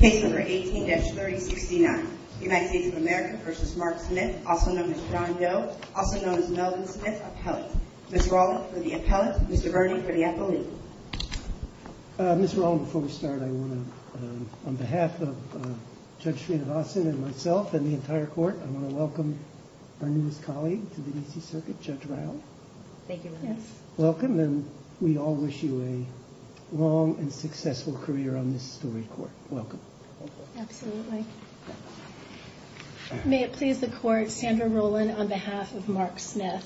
18-3069 United States of America v. Mark Smith, also known as John Doe, also known as Melvin Smith, Appellate. Ms. Rollin for the Appellate, Mr. Burney for the Appellate. Ms. Rollin, before we start, I want to, on behalf of Judge Srinivasan and myself and the entire court, I want to welcome our newest colleague to the D.C. Circuit, Judge Ryle. Thank you. Welcome, and we all wish you a long and successful career on this story court. Welcome. Thank you. Absolutely. May it please the court, Sandra Rollin on behalf of Mark Smith.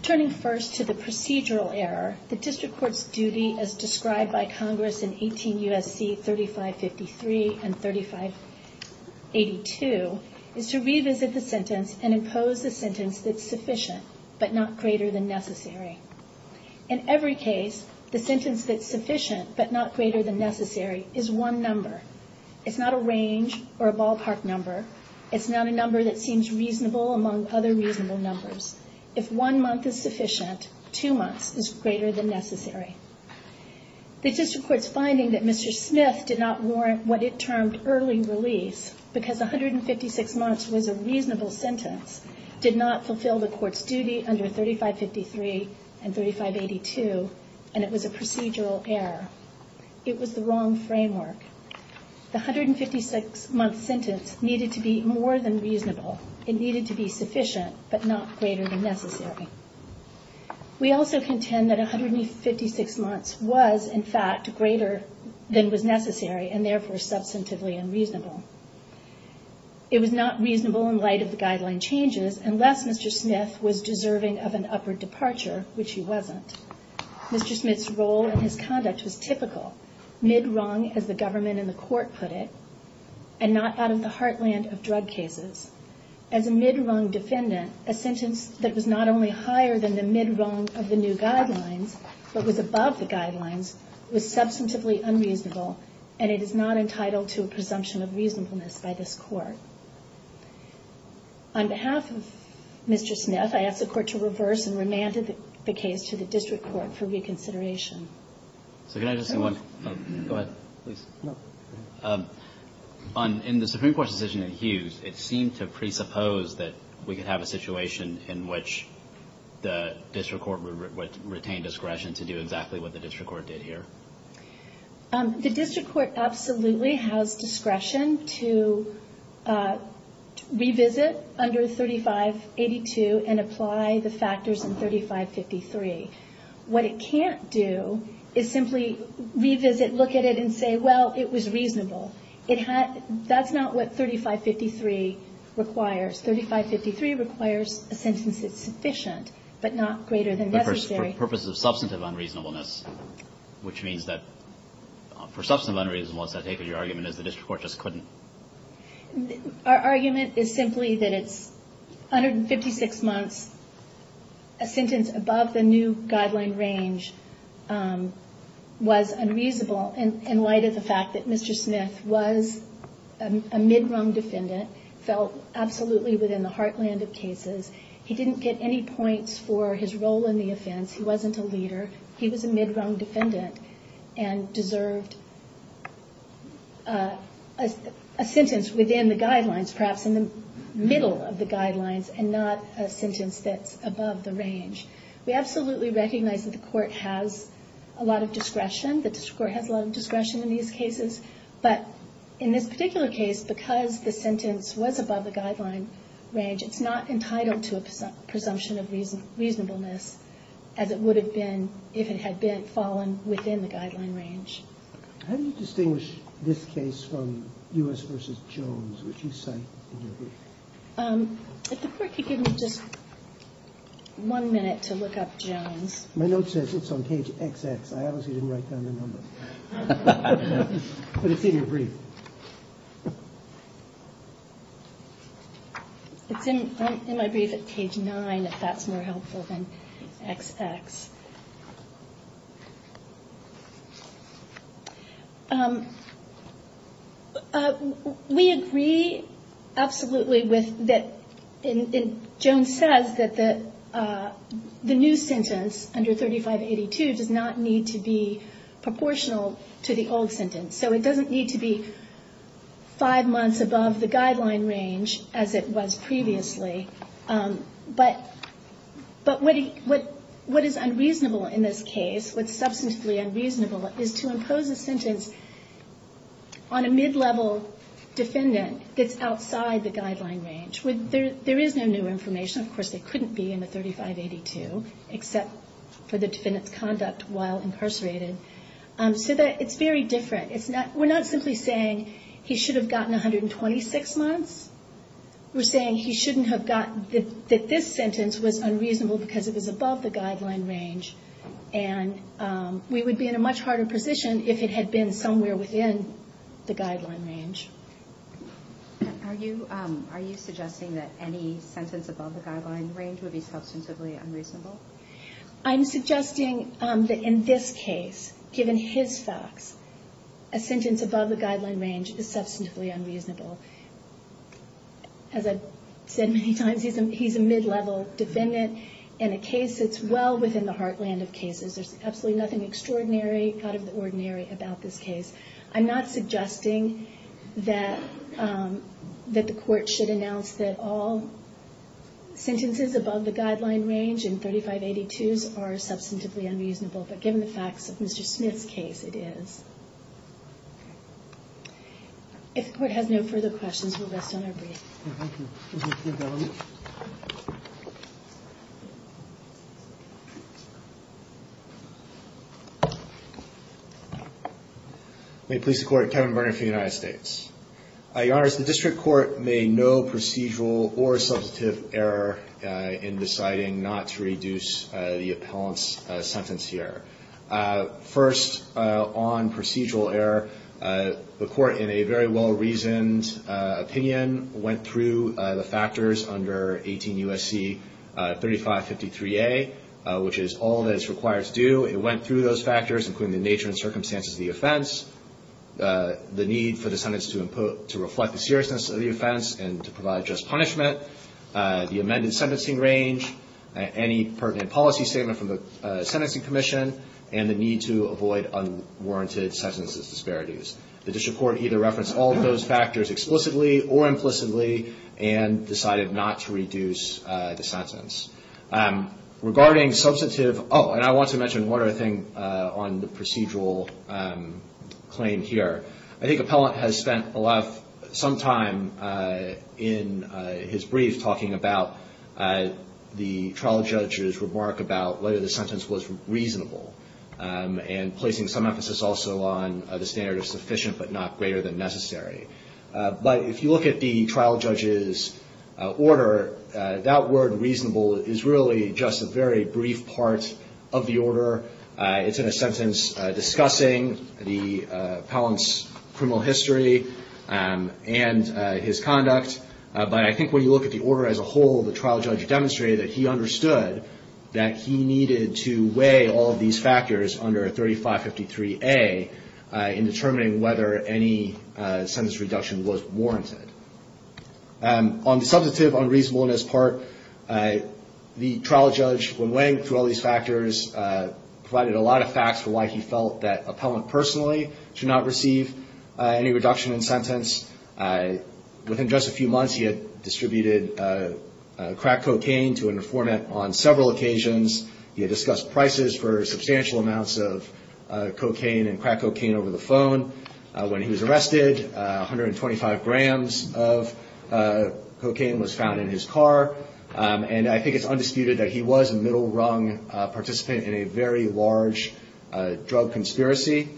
Turning first to the procedural error, the district court's duty as described by Congress in 18 U.S.C. 3553 and 3582 is to revisit the sentence and impose a sentence that's sufficient but not greater than necessary. In every case, the sentence that's sufficient but not greater than necessary is one number. It's not a range or a ballpark number. It's not a number that seems reasonable among other reasonable numbers. If one month is sufficient, two months is greater than necessary. The district court's finding that Mr. Smith did not warrant what it termed early release because 156 months was a reasonable sentence did not fulfill the court's duty under 3553 and 3582, and it was a procedural error. It was the wrong framework. The 156-month sentence needed to be more than reasonable. It needed to be sufficient but not greater than necessary. We also contend that 156 months was, in fact, greater than was necessary and therefore substantively unreasonable. It was not reasonable in light of the guideline changes unless Mr. Smith was deserving of an upward departure, which he wasn't. Mr. Smith's role and his conduct was typical, mid-rung as the government and the court put it, and not out of the heartland of drug cases. As a mid-rung defendant, a sentence that was not only higher than the mid-rung of the new guidelines but was above the guidelines was substantively unreasonable, and it is not entitled to a presumption of reasonableness by this Court. On behalf of Mr. Smith, I ask the Court to reverse and remand the case to the district court for reconsideration. So can I just say one thing? Go ahead, please. In the Supreme Court's decision in Hughes, it seemed to presuppose that we could have a situation in which the district court would retain discretion to do exactly what the district court did here. The district court absolutely has discretion to revisit under 3582 and apply the factors in 3553. What it can't do is simply revisit, look at it, and say, well, it was reasonable. That's not what 3553 requires. 3553 requires a sentence that's sufficient but not greater than necessary. But for purposes of substantive unreasonableness, which means that for substantive unreasonableness, I take it your argument is the district court just couldn't? Our argument is simply that it's 156 months. A sentence above the new guideline range was unreasonable, in light of the fact that Mr. Smith was a mid-rung defendant, felt absolutely within the heartland of cases. He didn't get any points for his role in the offense. He wasn't a leader. He was a mid-rung defendant and deserved a sentence within the guidelines, perhaps in the middle of the guidelines and not a sentence that's above the range. We absolutely recognize that the court has a lot of discretion. The district court has a lot of discretion in these cases. But in this particular case, because the sentence was above the guideline range, it's not entitled to a presumption of reasonableness as it would have been if it had been fallen within the guideline range. How do you distinguish this case from U.S. v. Jones, which you cite in your brief? If the court could give me just one minute to look up Jones. My note says it's on page XX. I obviously didn't write down the number. But it's in your brief. It's in my brief at page 9, if that's more helpful than XX. We agree absolutely with that. Jones says that the new sentence under 3582 does not need to be proportional to the old sentence. So it doesn't need to be five months above the guideline range as it was previously. But what is unreasonable in this case, what's substantively unreasonable, is to impose a sentence on a mid-level defendant that's outside the guideline range. There is no new information. Of course, they couldn't be in the 3582, except for the defendant's conduct while incarcerated. So it's very different. We're not simply saying he should have gotten 126 months. We're saying he shouldn't have gotten that this sentence was unreasonable because it was above the guideline range. And we would be in a much harder position if it had been somewhere within the guideline range. Are you suggesting that any sentence above the guideline range would be substantively unreasonable? I'm suggesting that in this case, given his facts, a sentence above the guideline range is substantively unreasonable. As I've said many times, he's a mid-level defendant. In a case that's well within the heartland of cases, there's absolutely nothing extraordinary out of the ordinary about this case. I'm not suggesting that the Court should announce that all sentences above the guideline range in 3582s are substantively unreasonable. But given the facts of Mr. Smith's case, it is. If the Court has no further questions, we'll rest on our brief. Thank you. Thank you, Your Honor. May it please the Court, Kevin Verner for the United States. Your Honors, the District Court made no procedural or substantive error in deciding not to reduce the appellant's sentence here. First, on procedural error, the Court, in a very well-reasoned opinion, went through the factors under 18 U.S.C. 3553A, which is all that it's required to do. It went through those factors, including the nature and circumstances of the offense, the need for the sentence to reflect the seriousness of the offense and to provide just punishment, the amended sentencing range, any pertinent policy statement from the Sentencing Commission, and the need to avoid unwarranted sentences disparities. The District Court either referenced all of those factors explicitly or implicitly and decided not to reduce the sentence. Regarding substantive – oh, and I want to mention one other thing on the procedural claim here. I think appellant has spent a lot of – some time in his brief talking about the trial judge's remark about whether the sentence was reasonable and placing some emphasis also on the standard of sufficient but not greater than necessary. But if you look at the trial judge's order, that word reasonable is really just a very brief part of the order. It's in a sentence discussing the appellant's criminal history and his conduct. But I think when you look at the order as a whole, the trial judge demonstrated that he understood that he needed to weigh all of these factors under 3553A in determining whether any sentence reduction was warranted. On the substantive unreasonableness part, the trial judge, when weighing through all these factors, provided a lot of facts for why he felt that appellant personally should not receive any reduction in sentence. Within just a few months, he had distributed crack cocaine to an informant on several occasions. He had discussed prices for substantial amounts of cocaine and crack cocaine over the phone. When he was arrested, 125 grams of cocaine was found in his car. And I think it's undisputed that he was a middle-rung participant in a very large drug conspiracy.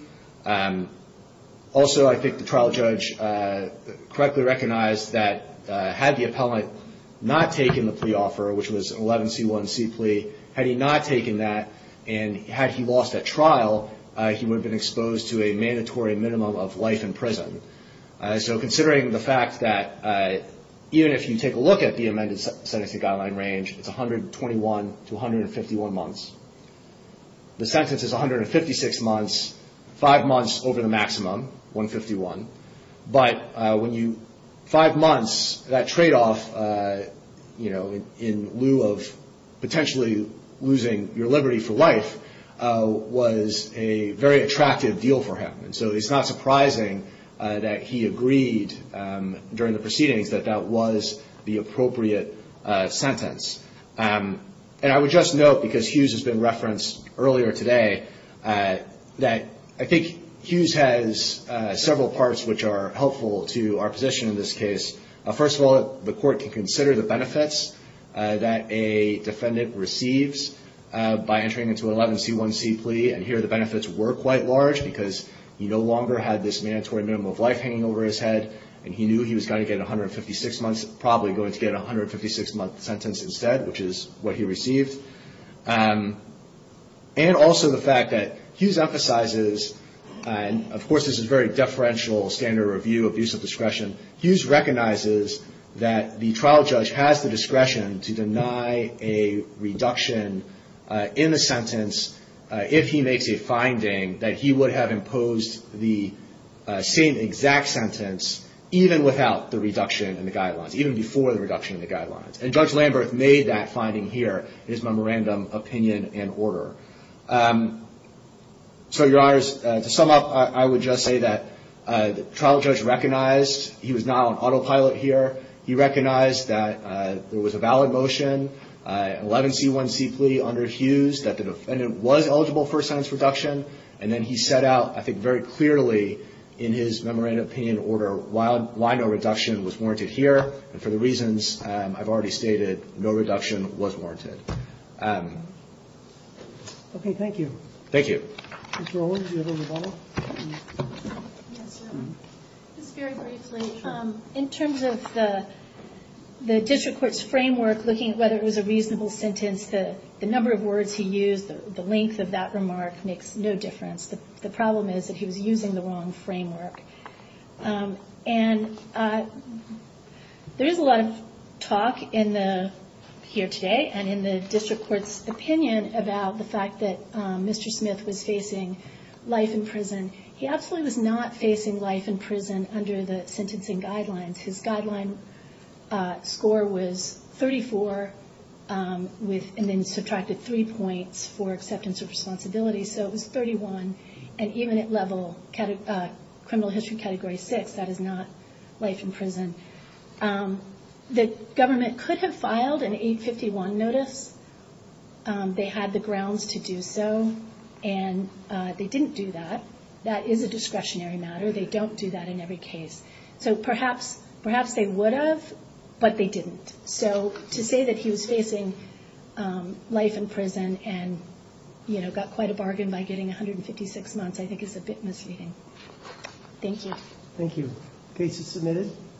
Also, I think the trial judge correctly recognized that had the appellant not taken the plea offer, which was 11C1C plea, had he not taken that and had he lost at trial, he would have been exposed to a mandatory minimum of life in prison. So considering the fact that even if you take a look at the amended sentencing guideline range, it's 121 to 151 months. The sentence is 156 months, five months over the maximum, 151. But when you – five months, that tradeoff, you know, in lieu of potentially losing your liberty for life was a very attractive deal for him. And so it's not surprising that he agreed during the proceedings that that was the appropriate sentence. And I would just note, because Hughes has been referenced earlier today, that I think Hughes has several parts which are helpful to our position in this case. First of all, the court can consider the benefits that a defendant receives by entering into an 11C1C plea. And here the benefits were quite large because he no longer had this mandatory minimum of life hanging over his head. And he knew he was going to get 156 months, probably going to get a 156-month sentence instead, which is what he received. And also the fact that Hughes emphasizes – and, of course, this is very deferential standard review of use of discretion – Hughes recognizes that the trial judge has the discretion to deny a reduction in the sentence if he makes a finding that he would have imposed the same exact sentence even without the reduction in the guidelines, and Judge Lamberth made that finding here in his memorandum, opinion, and order. So, Your Honors, to sum up, I would just say that the trial judge recognized he was not on autopilot here. He recognized that there was a valid motion, 11C1C plea under Hughes, that the defendant was eligible for a sentence reduction. And then he set out, I think very clearly in his memorandum, opinion, and order, why no reduction was warranted here. And for the reasons I've already stated, no reduction was warranted. Okay, thank you. Thank you. Ms. Rowland, do you have a rebuttal? Yes, Your Honor. Just very briefly. Sure. In terms of the district court's framework, looking at whether it was a reasonable sentence, the number of words he used, the length of that remark makes no difference. The problem is that he was using the wrong framework. And there is a lot of talk here today and in the district court's opinion about the fact that Mr. Smith was facing life in prison. He absolutely was not facing life in prison under the sentencing guidelines. His guideline score was 34 and then subtracted three points for acceptance of responsibility. So it was 31. And even at level criminal history category six, that is not life in prison. The government could have filed an 851 notice. They had the grounds to do so. And they didn't do that. That is a discretionary matter. They don't do that in every case. So perhaps they would have, but they didn't. So to say that he was facing life in prison and got quite a bargain by getting 156 months I think is a bit misleading. Thank you. Thank you. Case is submitted.